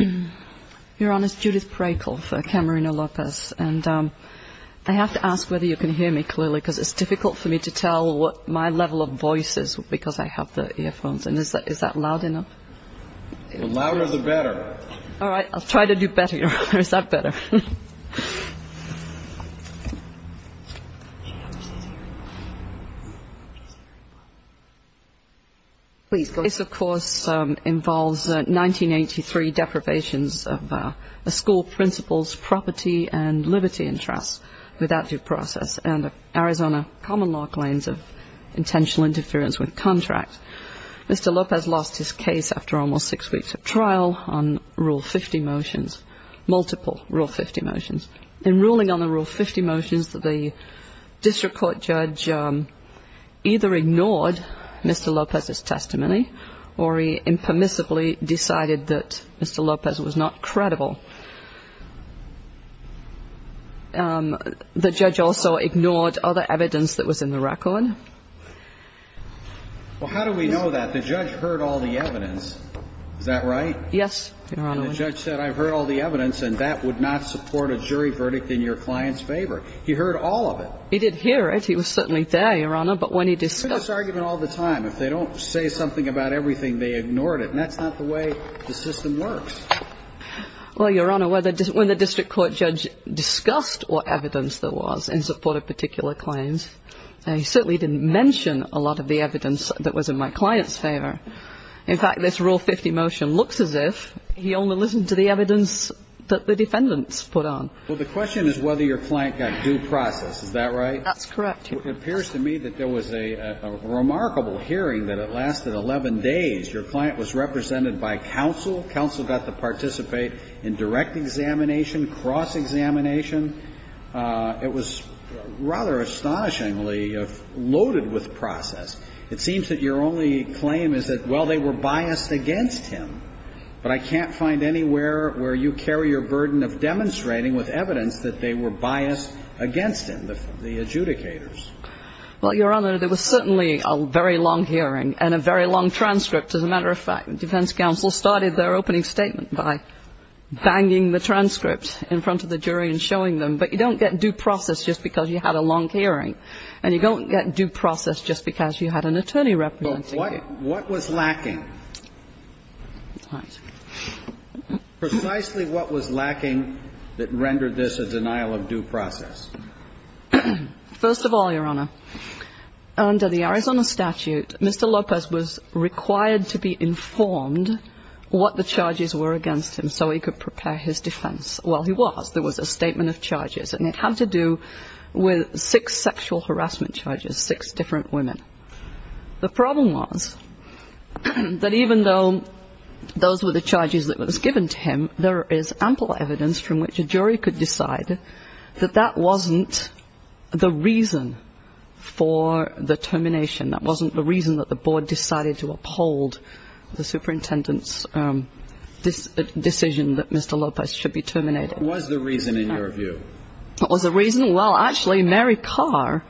I have to ask whether you can hear me clearly, because it's difficult for me to tell what my level of voice is because I have the earphones, and is that loud enough? The louder the better. All right. I'll try to do better, Your Honor. Is that better? This, of course, involves 1983 deprivations of a school principal's property and liberty interests without due process and Arizona common law claims of intentional interference with contract. Mr. Lopez lost his case after almost six weeks of trial on Rule 50 motions, multiple Rule 50 motions. In ruling on the Rule 50 motions, the district court judge either ignored Mr. Lopez's testimony or he impermissibly decided that Mr. Lopez was not credible. The judge also ignored other evidence that was in the record. Well, how do we know that? The judge heard all the evidence. Is that right? Yes, Your Honor. The judge said, I've heard all the evidence, and that would not support a jury verdict in your client's favor. He heard all of it. He did hear it. He was certainly there, Your Honor, but when he discussed They hear this argument all the time. If they don't say something about everything, they ignored it, and that's not the way the system works. Well, Your Honor, when the district court judge discussed what evidence there was in support of particular claims, he certainly didn't mention a lot of the evidence that was in my client's favor. In fact, this Rule 50 motion looks as if he only listened to the evidence that the defendants put on. Well, the question is whether your client got due process. Is that right? That's correct, Your Honor. It appears to me that there was a remarkable hearing that it lasted 11 days. Your client was represented by counsel. Counsel got to participate in direct examination, cross-examination. It was rather astonishingly loaded with process. It seems that your only claim is that, well, they were biased against him, but I can't find anywhere where you carry your burden of demonstrating with evidence that they were biased against him, the adjudicators. Well, Your Honor, there was certainly a very long hearing and a very long transcript. As a matter of fact, defense counsel started their opening statement by banging the transcript in front of the jury and showing them. But you don't get due process just because you had a long hearing, and you don't get due process just because you had an attorney representing you. What was lacking? Precisely what was lacking that rendered this a denial of due process? First of all, Your Honor, under the Arizona statute, Mr. Lopez was required to be informed what the charges were against him so he could prepare his defense. Well, he was. There was a statement of charges, and it had to do with six sexual harassment charges, six different women. The problem was that even though those were the charges that was given to him, there is ample evidence from which a jury could decide that that wasn't the reason for the termination. That wasn't the reason that the board decided to uphold the superintendent's decision that Mr. Lopez should be terminated. What was the reason, in your view? What was the reason? Well, actually, Mary Carr,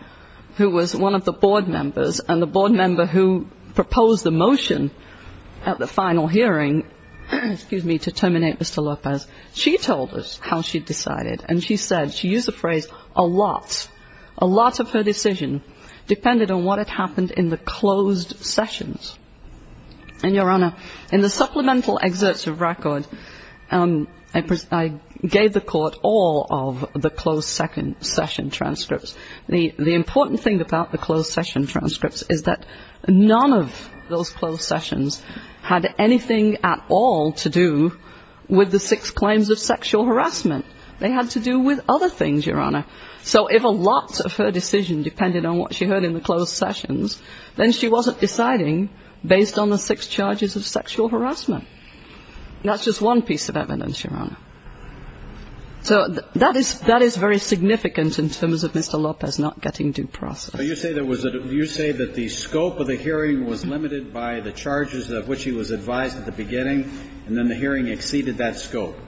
who was one of the board members and the board member who proposed the motion at the final hearing to terminate Mr. Lopez, she told us how she decided. And she said, she used the phrase, a lot, a lot of her decision depended on what had happened in the closed sessions. And, Your Honor, in the supplemental excerpts of record, I gave the court all of the closed session transcripts. The important thing about the closed session transcripts is that none of those closed sessions had anything at all to do with the six claims of sexual harassment. They had to do with other things, Your Honor. So if a lot of her decision depended on what she heard in the closed sessions, then she wasn't deciding based on the six charges of sexual harassment. That's just one piece of evidence, Your Honor. So that is very significant in terms of Mr. Lopez not getting due process. So you say that the scope of the hearing was limited by the charges of which he was advised at the beginning, and then the hearing exceeded that scope?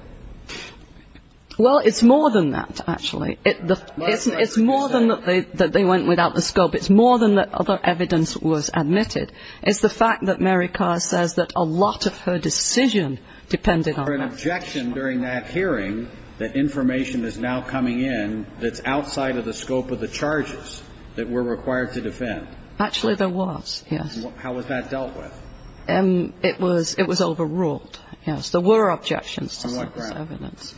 Well, it's more than that, actually. It's more than that they went without the scope. It's more than that other evidence was admitted. It's the fact that Mary Carr says that a lot of her decision depended on that. Was there an objection during that hearing that information is now coming in that's outside of the scope of the charges that were required to defend? Actually, there was, yes. How was that dealt with? It was overruled, yes. There were objections to some of this evidence.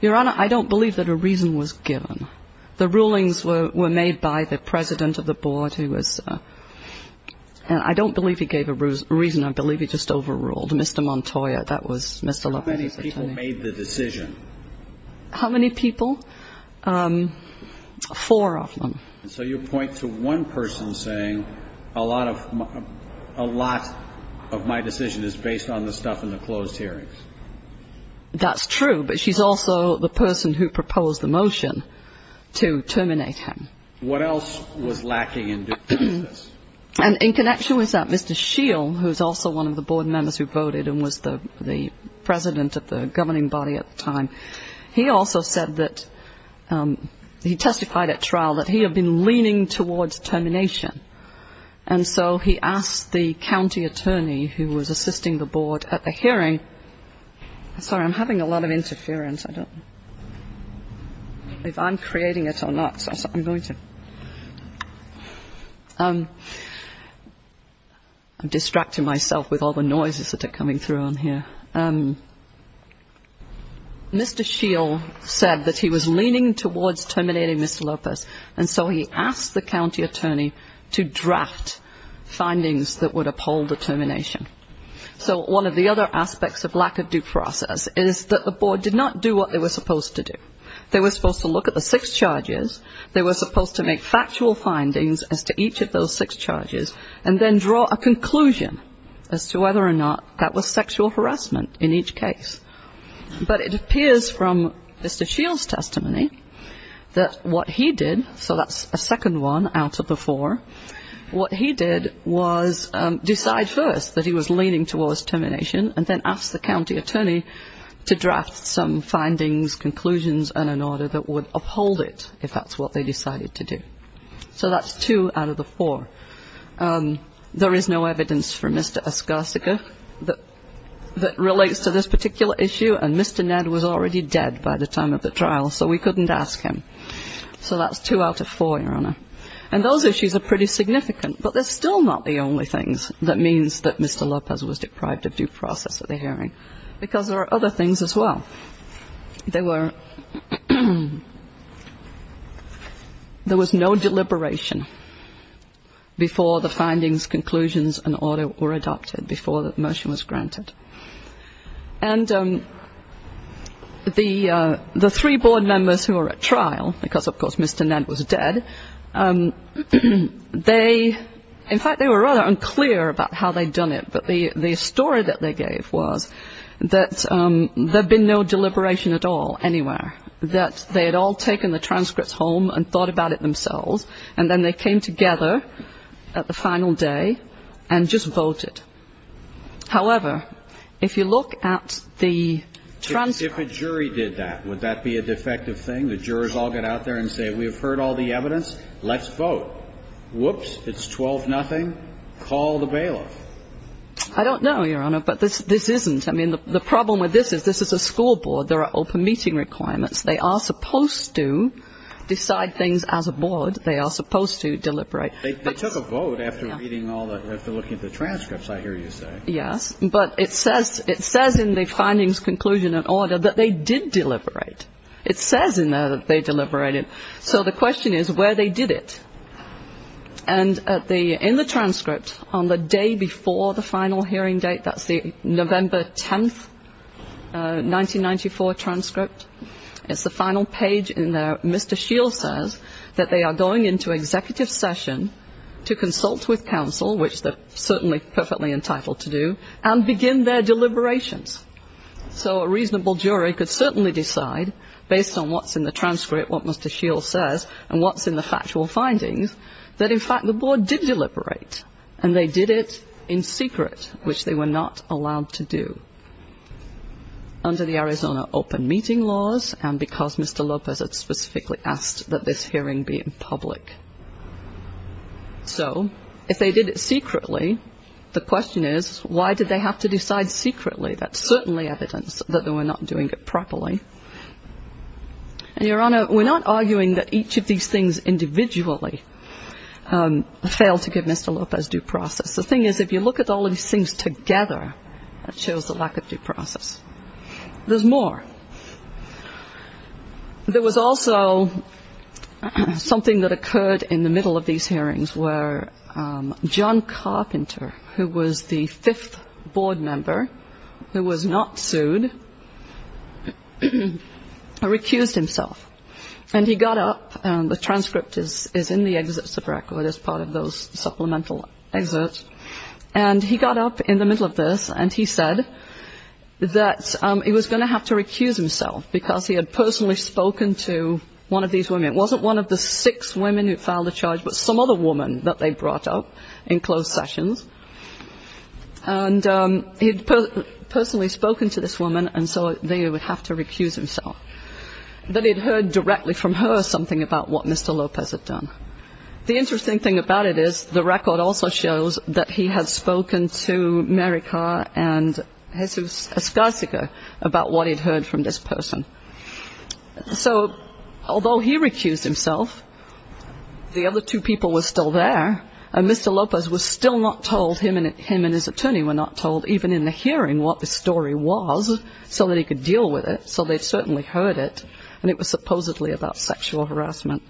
Your Honor, I don't believe that a reason was given. The rulings were made by the president of the board who was ‑‑ I don't believe he gave a reason. I believe he just overruled Mr. Montoya. That was Mr. Lopez's attorney. How many people made the decision? How many people? Four of them. And so you point to one person saying a lot of my decision is based on the stuff in the closed hearings. That's true, but she's also the person who proposed the motion to terminate him. What else was lacking in due process? And in connection with that, Mr. Scheel, who's also one of the board members who voted and was the president of the governing body at the time, he also said that ‑‑ he testified at trial that he had been leaning towards termination. And so he asked the county attorney who was assisting the board at the hearing. Sorry, I'm having a lot of interference. I don't know if I'm creating it or not, so I'm going to. I'm distracting myself with all the noises that are coming through on here. Mr. Scheel said that he was leaning towards terminating Mr. Lopez, and so he asked the county attorney to draft findings that would uphold the termination. So one of the other aspects of lack of due process is that the board did not do what they were supposed to do. They were supposed to look at the six charges. They were supposed to make factual findings as to each of those six charges and then draw a conclusion as to whether or not that was sexual harassment in each case. But it appears from Mr. Scheel's testimony that what he did, so that's a second one out of the four, what he did was decide first that he was leaning towards termination and then asked the county attorney to draft some findings, conclusions, and an order that would uphold it if that's what they decided to do. So that's two out of the four. There is no evidence from Mr. Oskarska that relates to this particular issue, and Mr. Ned was already dead by the time of the trial, so we couldn't ask him. So that's two out of four, Your Honor. And those issues are pretty significant, but they're still not the only things that means that Mr. Lopez was deprived of due process at the hearing, because there are other things as well. There was no deliberation before the findings, conclusions, and order were adopted, before the motion was granted. And the three board members who were at trial, because, of course, Mr. Ned was dead, in fact, they were rather unclear about how they'd done it, but the story that they gave was that there had been no deliberation at all anywhere, that they had all taken the transcripts home and thought about it themselves, and then they came together at the final day and just voted. However, if you look at the transcripts. If a jury did that, would that be a defective thing? The jurors all get out there and say, we've heard all the evidence. Let's vote. Whoops, it's 12-0. And then call the bailiff. I don't know, Your Honor, but this isn't. I mean, the problem with this is this is a school board. There are open meeting requirements. They are supposed to decide things as a board. They are supposed to deliberate. They took a vote after reading all that, after looking at the transcripts, I hear you say. Yes, but it says in the findings, conclusion, and order that they did deliberate. It says in there that they deliberated. So the question is where they did it. And in the transcript, on the day before the final hearing date, that's the November 10, 1994 transcript, it's the final page in there. Mr. Scheel says that they are going into executive session to consult with counsel, which they're certainly perfectly entitled to do, and begin their deliberations. So a reasonable jury could certainly decide, based on what's in the transcript, what Mr. Scheel says, and what's in the factual findings, that, in fact, the board did deliberate, and they did it in secret, which they were not allowed to do under the Arizona open meeting laws and because Mr. Lopez had specifically asked that this hearing be in public. So if they did it secretly, the question is why did they have to decide secretly? That's certainly evidence that they were not doing it properly. And, Your Honor, we're not arguing that each of these things individually failed to give Mr. Lopez due process. The thing is, if you look at all of these things together, that shows the lack of due process. There's more. There was also something that occurred in the middle of these hearings where John Carpenter, who was the fifth board member who was not sued, recused himself. And he got up, and the transcript is in the excerpts of the record as part of those supplemental excerpts, and he got up in the middle of this and he said that he was going to have to recuse himself because he had personally spoken to one of these women. It wasn't one of the six women who filed the charge, but some other woman that they brought up in closed sessions. And he had personally spoken to this woman, and so they would have to recuse himself. But he had heard directly from her something about what Mr. Lopez had done. The interesting thing about it is the record also shows that he had spoken to Mary Carr and Jesus Escarcica about what he had heard from this person. So, although he recused himself, the other two people were still there, and Mr. Lopez was still not told, him and his attorney were not told, even in the hearing, what the story was, so that he could deal with it, so they certainly heard it, and it was supposedly about sexual harassment.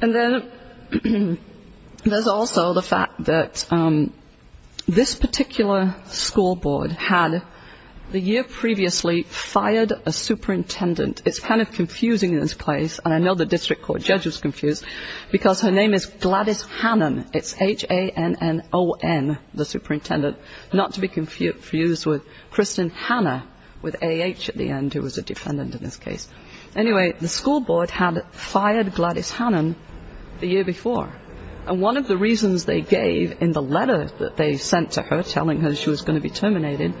And then there's also the fact that this particular school board had, the year previously, fired a superintendent. It's kind of confusing in this place, and I know the district court judge was confused, because her name is Gladys Hannan, it's H-A-N-N-O-N, the superintendent, not to be confused with Kristen Hanna, with A-H at the end, who was a defendant in this case. Anyway, the school board had fired Gladys Hannan the year before, and one of the reasons they gave in the letter that they sent to her, telling her she was going to be terminated,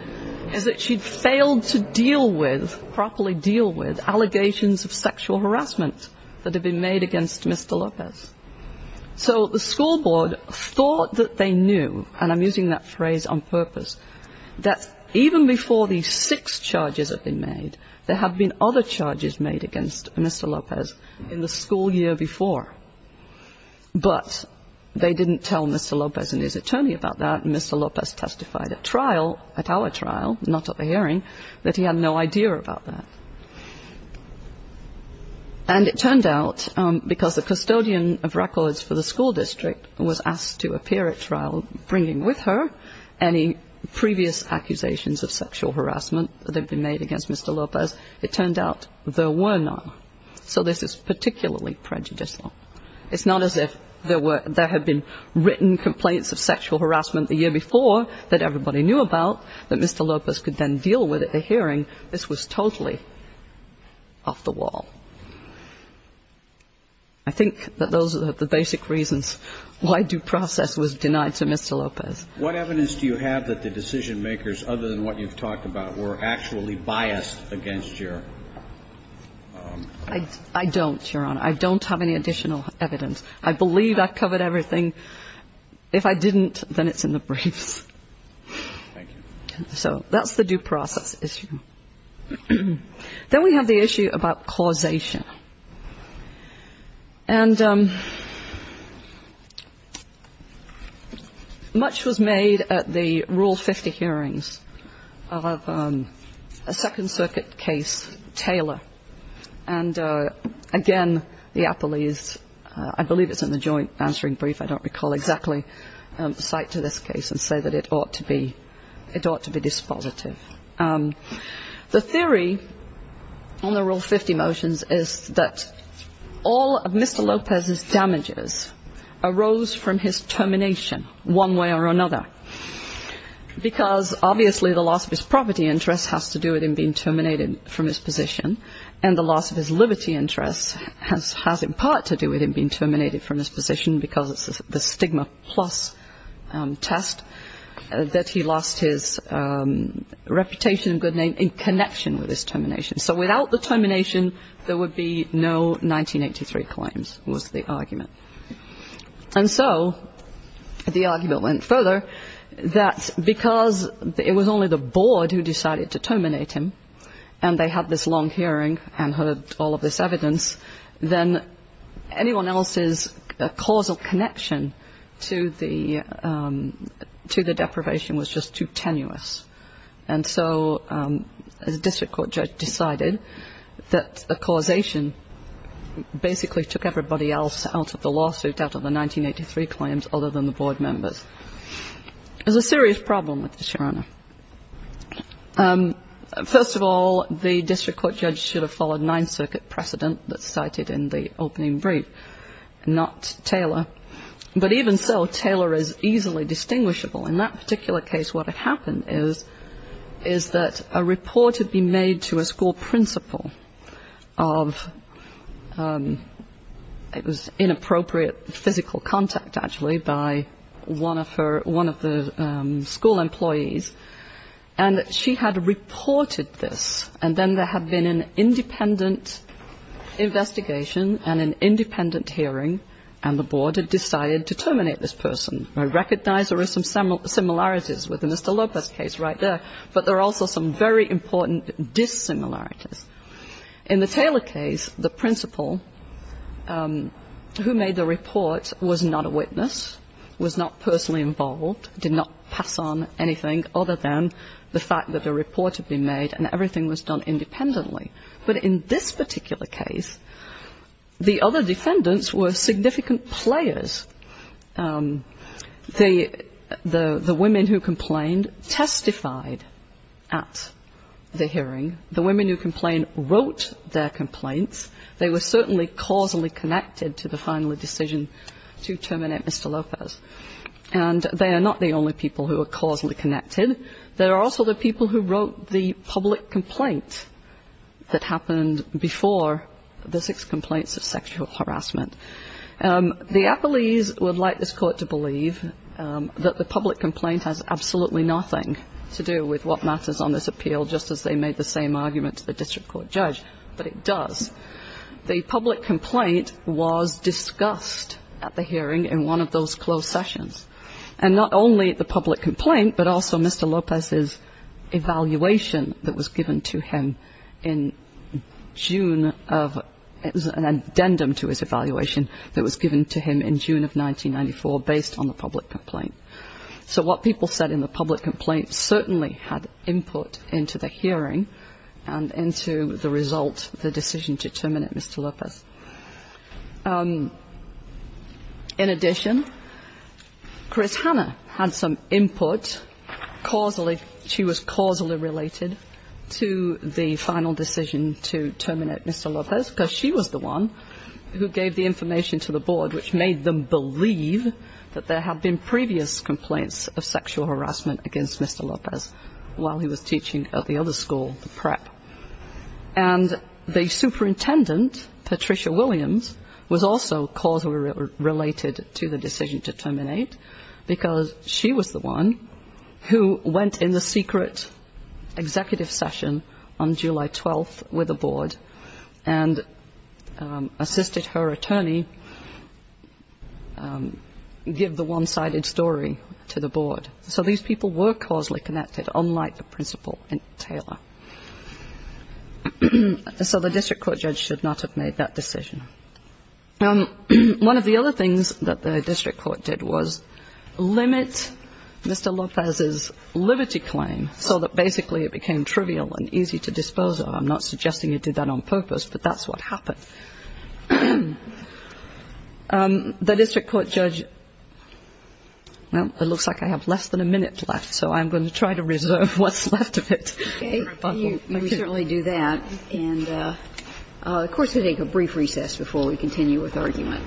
is that she'd failed to deal with, properly deal with, allegations of sexual harassment that had been made against Mr. Lopez. So the school board thought that they knew, and I'm using that phrase on purpose, that even before these six charges had been made, there had been other charges made against Mr. Lopez in the school year before. But they didn't tell Mr. Lopez and his attorney about that, and Mr. Lopez testified at trial, not at the hearing, that he had no idea about that. And it turned out, because the custodian of records for the school district was asked to appear at trial, bringing with her any previous accusations of sexual harassment that had been made against Mr. Lopez, it turned out there were none. So this is particularly prejudicial. It's not as if there had been written complaints of sexual harassment the year before that everybody knew about, that Mr. Lopez could then deal with at the hearing. This was totally off the wall. I think that those are the basic reasons why due process was denied to Mr. Lopez. What evidence do you have that the decision-makers, other than what you've talked about, were actually biased against your... I don't, Your Honor. I don't have any additional evidence. I believe I've covered everything. If I didn't, then it's in the briefs. So that's the due process issue. Then we have the issue about causation. And much was made at the Rule 50 hearings of a Second Circuit case, Taylor. And again, the appellees, I believe it's in the joint answering brief, I don't recall exactly, cite to this case and say that it ought to be dispositive. The theory on the Rule 50 motions is that all of Mr. Lopez's damages arose from his termination, one way or another. Because obviously the loss of his property interest has to do with him being terminated from his position. And the loss of his liberty interest has in part to do with him being terminated from his position because of the stigma plus test, that he lost his reputation and good name in connection with his termination. So without the termination, there would be no 1983 claims was the argument. And so the argument went further, that because it was only the board who decided to terminate him, and they had this long hearing and heard all of this evidence, then anyone else's causal connection to the deprivation was just too tenuous. And so a district court judge decided that a causation basically took everybody else out of the lawsuit, out of the 1983 claims, other than the board members. There's a serious problem with this, Your Honor. First of all, the district court judge should have followed Ninth Circuit precedent that's cited in the opening brief, not Taylor. But even so, Taylor is easily distinguishable. In that particular case, what had happened is that a report had been made to a school principal of, it was inappropriate physical contact, actually, by one of the school employees. And she had reported this. And then there had been an independent investigation and an independent hearing, and the board had decided to terminate this person. I recognize there are some similarities with the Mr. Lopez case right there, but there are also some very important dissimilarities. In the Taylor case, the principal who made the report was not a witness, was not personally involved, did not pass on anything other than the fact that a report had been made and everything was done independently. But in this particular case, the other defendants were significant players. The women who complained testified at the hearing. The women who complained wrote their complaints. They were certainly causally connected to the final decision to terminate Mr. Lopez. And they are not the only people who are causally connected. There are also the people who wrote the public complaint that happened before the six complaints of sexual harassment. The appellees would like this court to believe that the public complaint has absolutely nothing to do with what matters on this appeal, just as they made the same argument to the district court judge, but it does. The public complaint was discussed at the hearing in one of those closed sessions. And not only the public complaint, but also Mr. Lopez's evaluation that was given to him in June of, it was an addendum to his evaluation that was given to him in June of 1994 based on the public complaint. So what people said in the public complaint certainly had input into the hearing and into the result, the decision to terminate Mr. Lopez. In addition, Chris Hannah had some input causally. She was causally related to the final decision to terminate Mr. Lopez because she was the one who gave the information to the board, which made them believe that there had been previous complaints of sexual harassment against Mr. Lopez while he was teaching at the other school, the prep. And the superintendent, Patricia Williams, was also causally related to the decision to terminate because she was the one who went in the secret executive session on July 12th with the board and assisted her attorney give the one-sided story to the board. So these people were causally connected, unlike the principal and Taylor. So the district court judge should not have made that decision. One of the other things that the district court did was limit Mr. Lopez's liberty claim so that basically it became trivial and easy to dispose of. I'm not suggesting it did that on purpose, but that's what happened. The district court judge, well, it looks like I have less than a minute left, so I'm going to try to reserve what's left of it. Okay. Let me certainly do that. And of course, we take a brief recess before we continue with argument.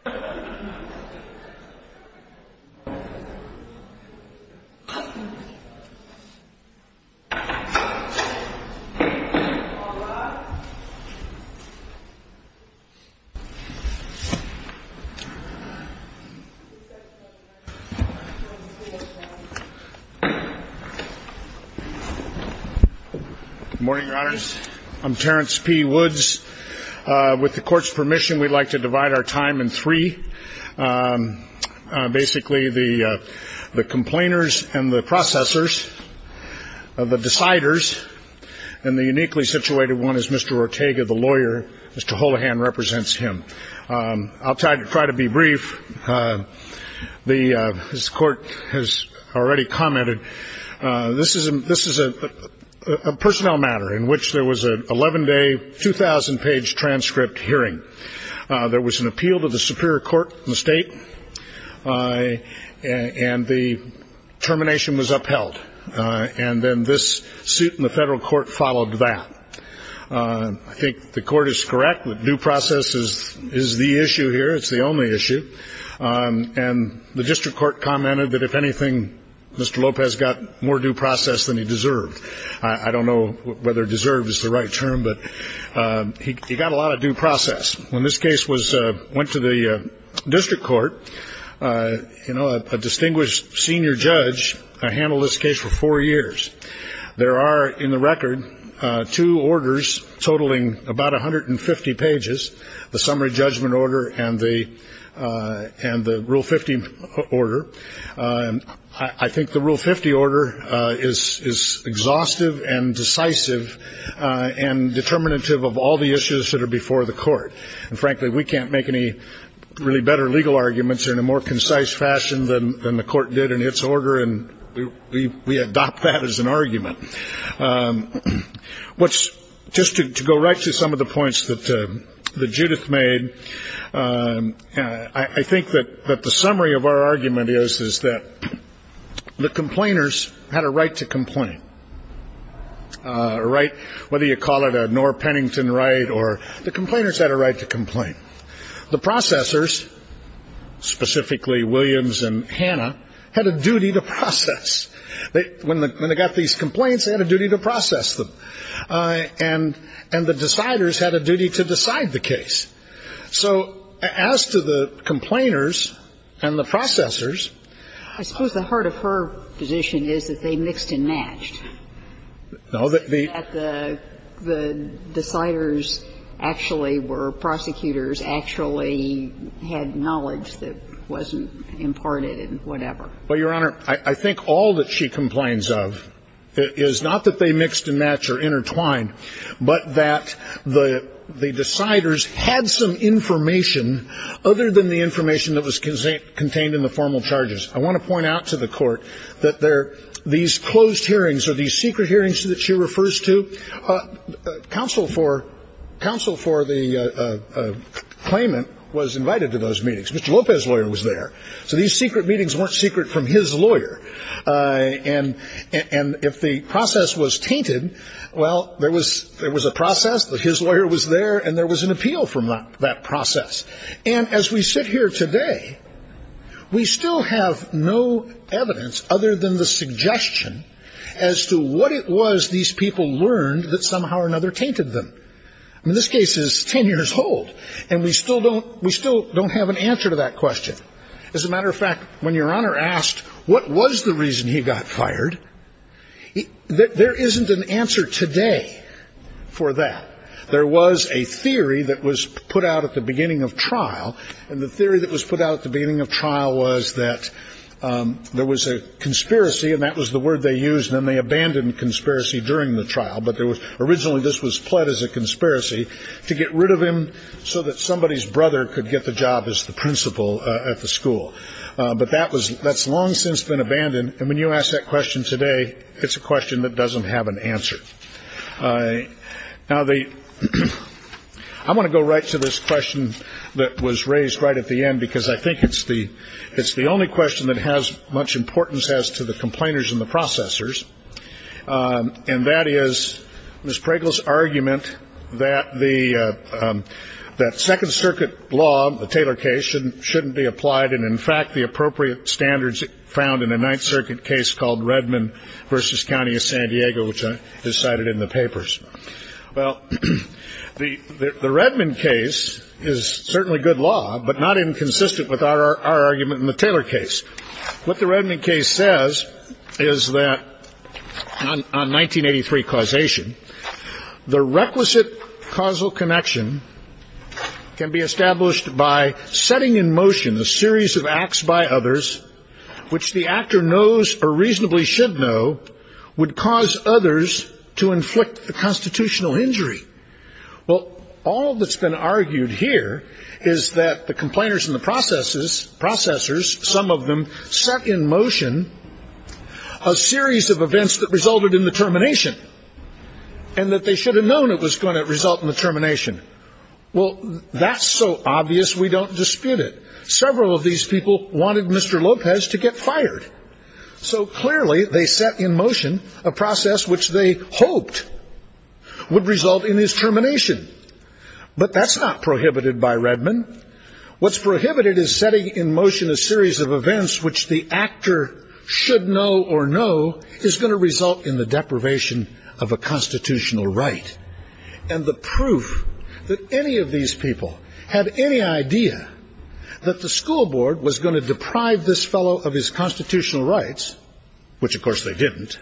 Thank you. Thank you. Thank you. Thank you. Thank you. Thank you. Thank you. Thank you. Thank you. Thank you. Thank you. Thank you. Thank you. Thank you. Thank you. Thank you. Thank you. Good morning, Your Honors. I'm Terrence P. Woods. With the Court's permission, we'd like to divide our time in three. Basically, the complainers and the processors, the deciders, and the uniquely situated one is Mr. Ortega, the lawyer. Mr. Holohan represents him. I'll try to be brief. As the Court has already commented, this is a personnel matter in which there was an 11-day, 2,000-page transcript hearing. There was an appeal to the Superior Court in the State, and the termination was upheld. And then this suit in the Federal Court followed that. I think the Court is correct that due process is the issue here. It's the only issue. And the District Court commented that, if anything, Mr. Lopez got more due process than he deserved. I don't know whether deserved is the right term, but he got a lot of due process. When this case went to the District Court, a distinguished senior judge handled this case for four years. There are, in the record, two orders totaling about 150 pages, the summary judgment order and the Rule 50 order. I think the Rule 50 order is exhaustive and decisive and determinative of all the issues that are before the Court. And, frankly, we can't make any really better legal arguments in a more concise fashion than the Court did in its order, and we adopt that as an argument. Just to go right to some of the points that Judith made, I think that the summary of our argument is that the complainers had a right to complain, whether you call it a Knorr-Pennington right, or the complainers had a right to complain. The processors, specifically Williams and Hannah, had a duty to process. When they got these complaints, they had a duty to process them. And the deciders had a duty to decide the case. So as to the complainers and the processors. I suppose the heart of her position is that they mixed and matched. No. The deciders actually were prosecutors, actually had knowledge that wasn't imparted and whatever. Well, Your Honor, I think all that she complains of is not that they mixed and matched or intertwined, but that the deciders had some information other than the information that was contained in the formal charges. I want to point out to the Court that these closed hearings or these secret hearings that she refers to, counsel for the claimant was invited to those meetings. Mr. Lopez's lawyer was there. So these secret meetings weren't secret from his lawyer. And if the process was tainted, well, there was a process, his lawyer was there, and there was an appeal from that process. And as we sit here today, we still have no evidence other than the suggestion as to what it was these people learned that somehow or another tainted them. I mean, this case is 10 years old, and we still don't have an answer to that question. As a matter of fact, when Your Honor asked what was the reason he got fired, there isn't an answer today for that. There was a theory that was put out at the beginning of trial, and the theory that was put out at the beginning of trial was that there was a conspiracy, and that was the word they used, and then they abandoned conspiracy during the trial. But originally this was pled as a conspiracy to get rid of him so that somebody's brother could get the job as the principal at the school. But that's long since been abandoned. And when you ask that question today, it's a question that doesn't have an answer. Now, I want to go right to this question that was raised right at the end, because I think it's the only question that has much importance as to the complainers and the processors, and that is Ms. Pragle's argument that the Second Circuit law, the Taylor case, shouldn't be applied and, in fact, the appropriate standards found in a Ninth Circuit case called Redmond v. County of San Diego, which is cited in the papers. Well, the Redmond case is certainly good law, but not inconsistent with our argument in the Taylor case. What the Redmond case says is that on 1983 causation, the requisite causal connection can be established by setting in motion a series of acts by others which the actor knows or reasonably should know would cause others to inflict the constitutional injury. Well, all that's been argued here is that the complainers and the processors, some of them, set in motion a series of events that resulted in the termination and that they should have known it was going to result in the termination. Well, that's so obvious we don't dispute it. Several of these people wanted Mr. Lopez to get fired. So clearly they set in motion a process which they hoped would result in his termination. But that's not prohibited by Redmond. What's prohibited is setting in motion a series of events which the actor should know or know is going to result in the deprivation of a constitutional right. And the proof that any of these people had any idea that the school board was going to deprive this fellow of his constitutional rights, which of course they didn't,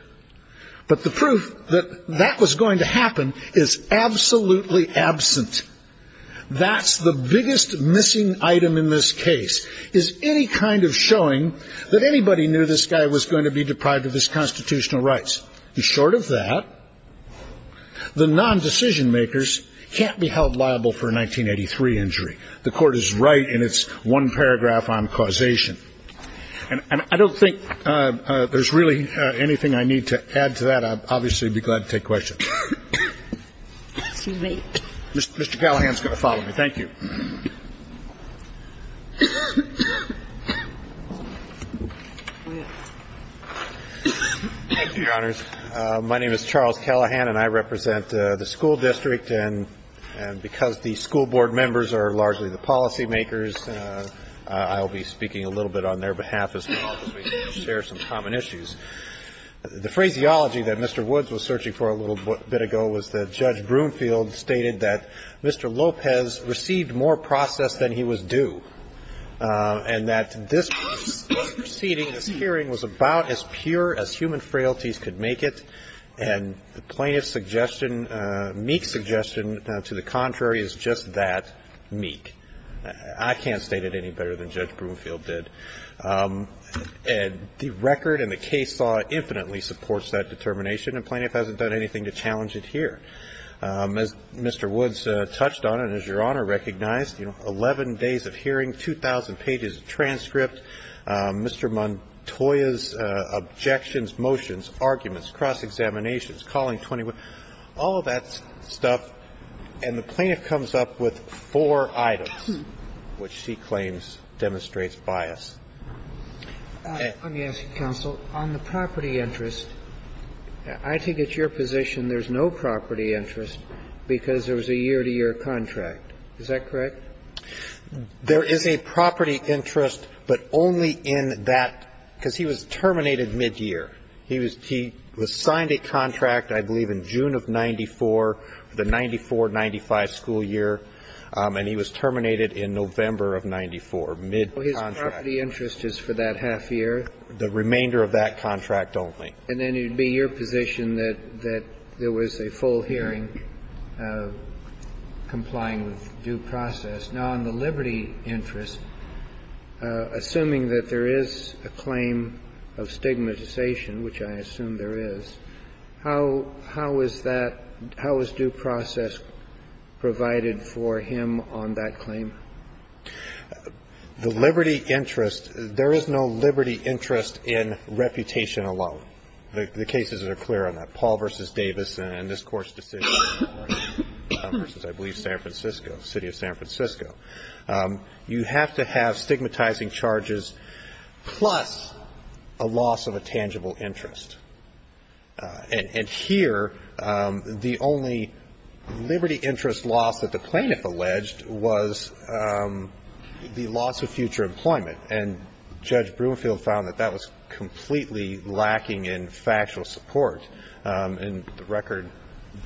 but the proof that that was going to happen is absolutely absent. That's the biggest missing item in this case, is any kind of showing that anybody knew this guy was going to be deprived of his constitutional rights. And short of that, the non-decision makers can't be held liable for a 1983 injury. The Court is right in its one paragraph on causation. And I don't think there's really anything I need to add to that. I'd obviously be glad to take questions. Mr. Callahan is going to follow me. Thank you. Thank you, Your Honors. My name is Charles Callahan, and I represent the school district. And because the school board members are largely the policymakers, I'll be speaking a little bit on their behalf as well, because we share some common issues. The phraseology that Mr. Woods was searching for a little bit ago was that Judge Broomfield stated that Mr. Lopez received more process than he was due, and that this proceeding, this hearing, was about as pure as human frailties could make it. And the plaintiff's suggestion, Meek's suggestion, to the contrary, is just that, Meek. I can't state it any better than Judge Broomfield did. And the record and the case law infinitely supports that determination, and plaintiff hasn't done anything to challenge it here. As Mr. Woods touched on and as Your Honor recognized, 11 days of hearing, 2,000 pages of transcript, Mr. Montoya's objections, motions, arguments, cross-examination, calling 21, all of that stuff. And the plaintiff comes up with four items, which she claims demonstrates And the other thing I'm wondering is, on the property interest, I think at your position there's no property interest because there was a year-to-year contract. Is that correct? There is a property interest, but only in that – because he was terminated midyear. He was signed a contract, I believe, in June of 94, the 94-95 school year, and he was terminated in November of 94, midcontract. Well, his property interest is for that half year. The remainder of that contract only. And then it would be your position that there was a full hearing complying with due process. Now, on the liberty interest, assuming that there is a claim of stigmatization, which I assume there is, how is that – how is due process provided for him on that claim? The liberty interest – there is no liberty interest in reputation alone. The cases are clear on that. And this Court's decision versus, I believe, San Francisco, city of San Francisco, you have to have stigmatizing charges plus a loss of a tangible interest. And here, the only liberty interest loss that the plaintiff alleged was the loss of future employment, and Judge Broomfield found that that was completely lacking in factual support. And the record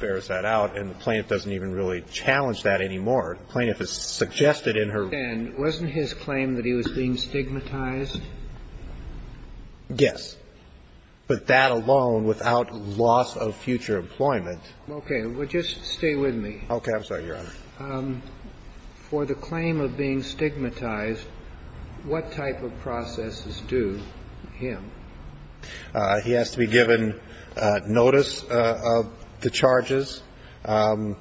bears that out. And the plaintiff doesn't even really challenge that anymore. The plaintiff has suggested in her – And wasn't his claim that he was being stigmatized? Yes. But that alone, without loss of future employment – Okay. Well, just stay with me. Okay. I'm sorry, Your Honor. For the claim of being stigmatized, what type of processes do him? He has to be given notice of the charges, an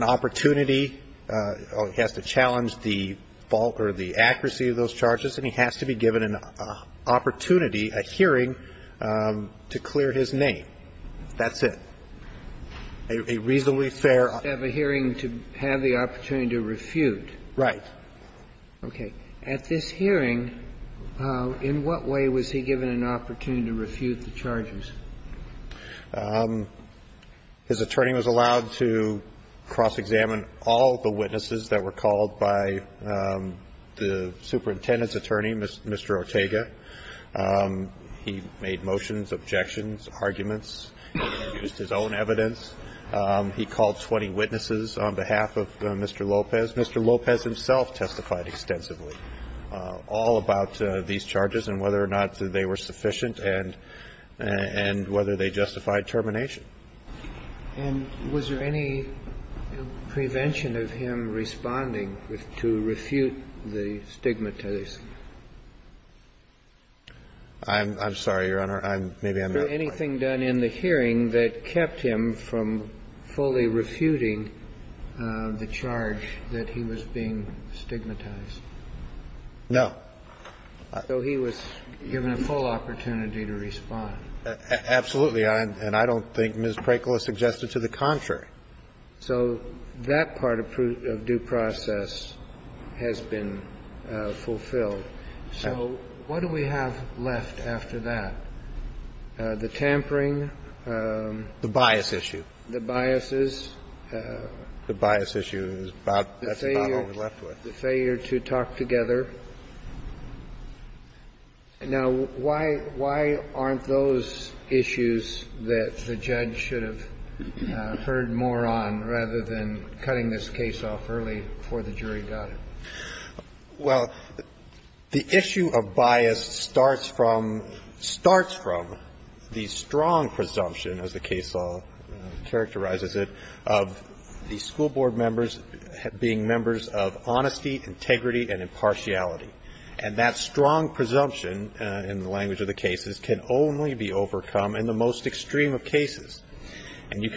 opportunity. He has to challenge the fault or the accuracy of those charges, and he has to be given an opportunity, a hearing, to clear his name. That's it. A reasonably fair – He has to have a hearing to have the opportunity to refute. Right. Okay. At this hearing, in what way was he given an opportunity to refute the charges? His attorney was allowed to cross-examine all the witnesses that were called by the superintendent's attorney, Mr. Ortega. He made motions, objections, arguments. He used his own evidence. He called 20 witnesses on behalf of Mr. Lopez. Mr. Lopez himself testified extensively all about these charges and whether or not they were sufficient and whether they justified termination. And was there any prevention of him responding to refute the stigmatization? I'm sorry, Your Honor. Maybe I'm not quite – Was there anything done in the hearing that kept him from fully refuting the charge that he was being stigmatized? No. So he was given a full opportunity to respond. Absolutely. And I don't think Ms. Prakla suggested to the contrary. So that part of due process has been fulfilled. So what do we have left after that? The tampering. The bias issue. The biases. The bias issue is about – that's about all we're left with. The failure to talk together. Now, why aren't those issues that the judge should have heard more on rather than cutting this case off early before the jury got it? Well, the issue of bias starts from – starts from the strong presumption, as the case law characterizes it, of the school board members being members of honesty, integrity, and impartiality. And that strong presumption, in the language of the cases, can only be overcome in the most extreme of cases. Now,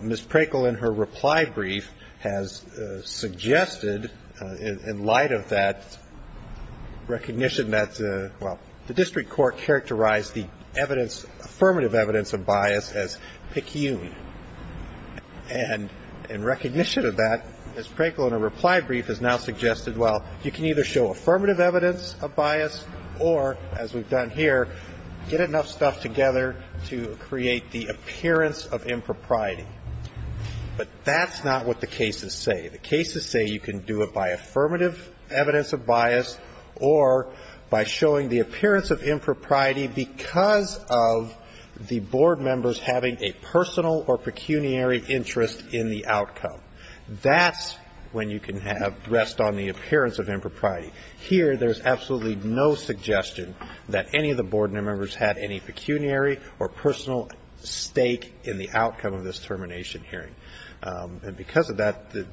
Ms. Prakla, in her reply brief, has suggested, in light of that, recognition that, well, the district court characterized the evidence, affirmative evidence of bias as peculiar. And in recognition of that, Ms. Prakla, in her reply brief, has now suggested, well, you can either show affirmative evidence of bias or, as we've done here, get enough stuff together to create the appearance of impropriety. But that's not what the cases say. The cases say you can do it by affirmative evidence of bias or by showing the appearance of impropriety because of the board members having a personal or pecuniary interest in the outcome. That's when you can have – rest on the appearance of impropriety. Here, there's absolutely no suggestion that any of the board members had any pecuniary or personal stake in the outcome of this termination hearing. And because of that, the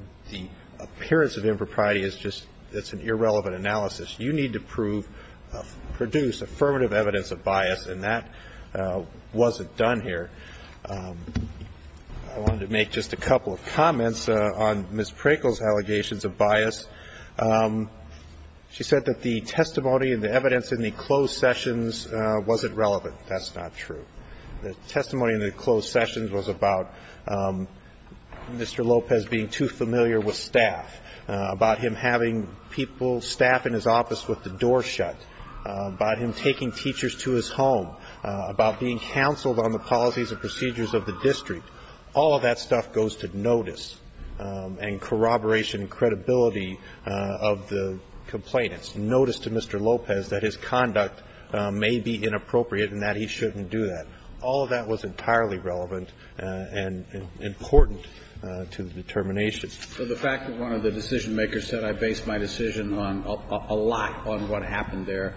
appearance of impropriety is just – it's an irrelevant analysis. You need to prove – produce affirmative evidence of bias, and that wasn't done here. I wanted to make just a couple of comments on Ms. Prakla's allegations of bias. She said that the testimony and the evidence in the closed sessions wasn't relevant. That's not true. The testimony in the closed sessions was about Mr. Lopez being too familiar with staff, about him having people, staff in his office with the door shut, about him taking teachers to his home, about being counseled on the policies and procedures of the district. All of that stuff goes to notice and corroboration and credibility of the complainants, notice to Mr. Lopez that his conduct may be inappropriate and that he shouldn't do that. All of that was entirely relevant and important to the determinations. So the fact that one of the decision-makers said, I based my decision on a lot on what happened there,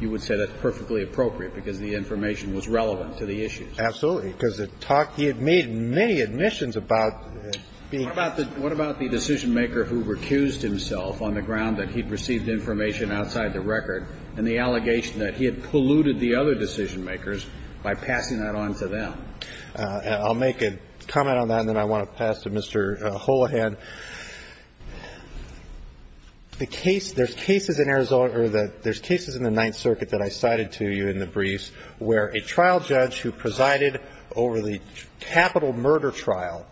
you would say that's perfectly appropriate because the information was relevant to the issues? Absolutely, because the talk he had made in many admissions about being ---- What about the decision-maker who recused himself on the ground that he'd received information outside the record and the allegation that he had polluted the other decision-makers by passing that on to them? I'll make a comment on that, and then I want to pass to Mr. Holahan. The case ---- there's cases in Arizona or the ---- there's cases in the Ninth Circuit that I cited to you in the briefs where a trial judge who presided over the capital murder trial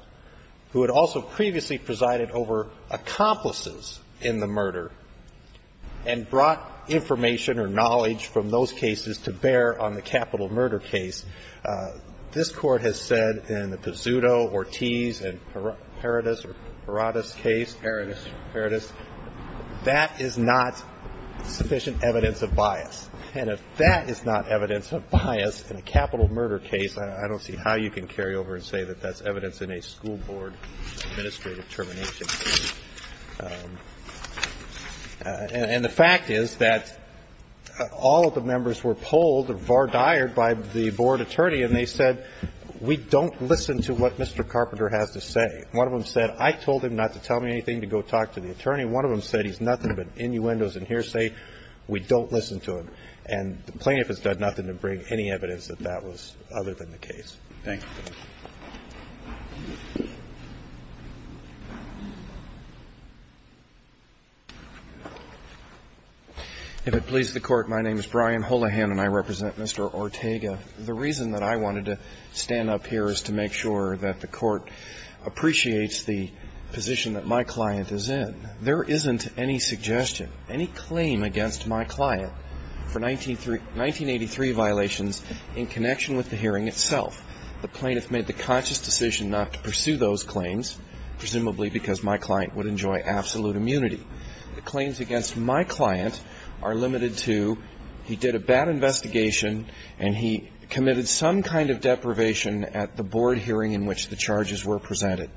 who had also previously presided over accomplices in the murder and brought information or knowledge from those cases to bear on the capital murder case, this Court has said in the Pizzuto, Ortiz, and Paradis case, that is not sufficient evidence of bias. And if that is not evidence of bias in a capital murder case, I don't see how you can carry over and say that that's evidence in a school board administrative termination case. And the fact is that all of the members were polled or vardyred by the board attorney, and they said, we don't listen to what Mr. Carpenter has to say. One of them said, I told him not to tell me anything to go talk to the attorney. One of them said, he's nothing but innuendos and hearsay. We don't listen to him. And the plaintiff has done nothing to bring any evidence that that was other than the case. Thank you. If it pleases the Court, my name is Brian Holahan and I represent Mr. Ortega. The reason that I wanted to stand up here is to make sure that the Court appreciates the position that my client is in. There isn't any suggestion, any claim against my client for 1983 violations in connection with the hearing itself. The plaintiff made the conscious decision not to pursue those claims, presumably because my client would enjoy absolute immunity. The claims against my client are limited to he did a bad investigation and he committed some kind of deprivation at the board hearing in which the charges were presented.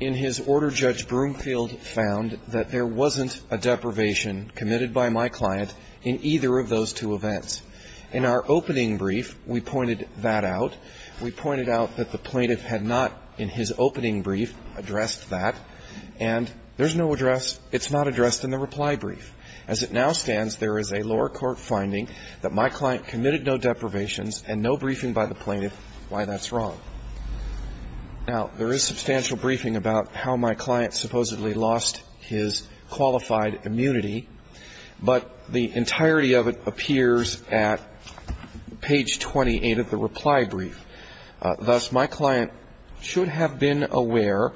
In his order, Judge Broomfield found that there wasn't a deprivation committed by my client in either of those two events. In our opening brief, we pointed that out. We pointed out that the plaintiff had not, in his opening brief, addressed that. And there's no address, it's not addressed in the reply brief. As it now stands, there is a lower court finding that my client committed no deprivations and no briefing by the plaintiff why that's wrong. Now, there is substantial briefing about how my client supposedly lost his qualified immunity, but the entirety of it appears at page 28 of the reply brief. Thus, my client should have been aware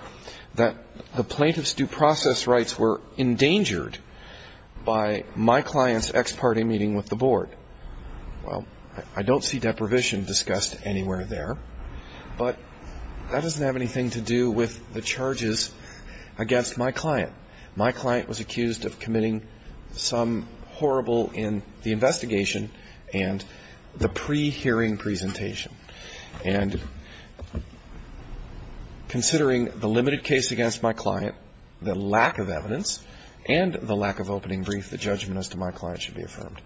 that the plaintiff's due process rights were endangered by my client's ex parte meeting with the board. Well, I don't see deprivation discussed anywhere there. But that doesn't have anything to do with the charges against my client. My client was accused of committing some horrible in the investigation and the pre-hearing presentation and considering the limited case against my client, the lack of evidence and the lack of opening brief, the judgment as to my client should be affirmed.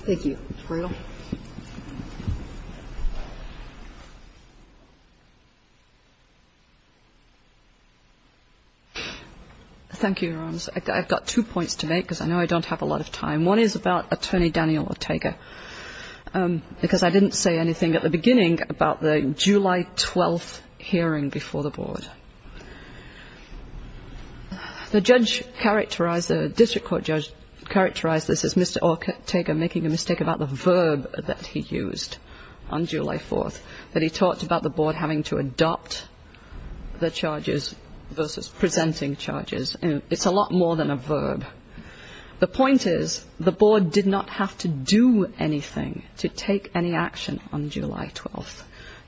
Thank you. Ms. Brito. Thank you, Your Honors. I've got two points to make because I know I don't have a lot of time. One is about Attorney Daniel Ortega because I didn't say anything at the beginning about the July 12th hearing before the board. The judge characterized, the district court judge characterized this as Mr. Ortega's mistake about the verb that he used on July 4th that he talked about the board having to adopt the charges versus presenting charges. It's a lot more than a verb. The point is the board did not have to do anything to take any action on July 12th.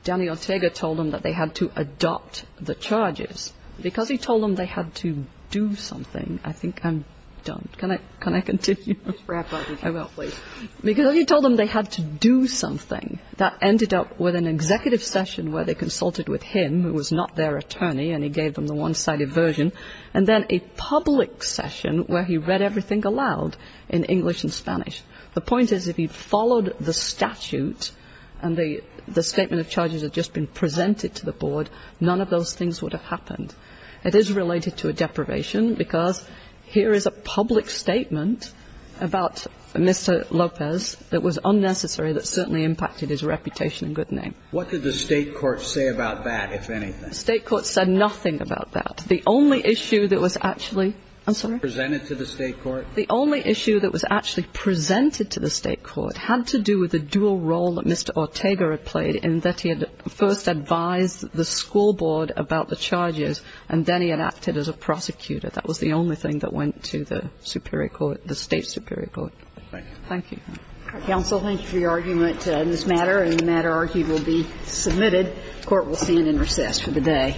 Daniel Ortega told them that they had to adopt the charges. Because he told them they had to do something, I think I'm done. Can I continue? I will, please. Because he told them they had to do something. That ended up with an executive session where they consulted with him who was not their attorney and he gave them the one-sided version, and then a public session where he read everything aloud in English and Spanish. The point is if he'd followed the statute and the statement of charges had just been presented to the board, none of those things would have happened. It is related to a deprivation because here is a public statement about Mr. Lopez that was unnecessary that certainly impacted his reputation and good name. What did the state court say about that, if anything? The state court said nothing about that. The only issue that was actually presented to the state court had to do with the dual role that Mr. Ortega had played in that he had first advised the school board about the charges and then he had acted as a prosecutor. That was the only thing that went to the state superior court. Thank you. Thank you. Counsel, thank you for your argument in this matter. The matter will be submitted. Court will stand in recess for the day.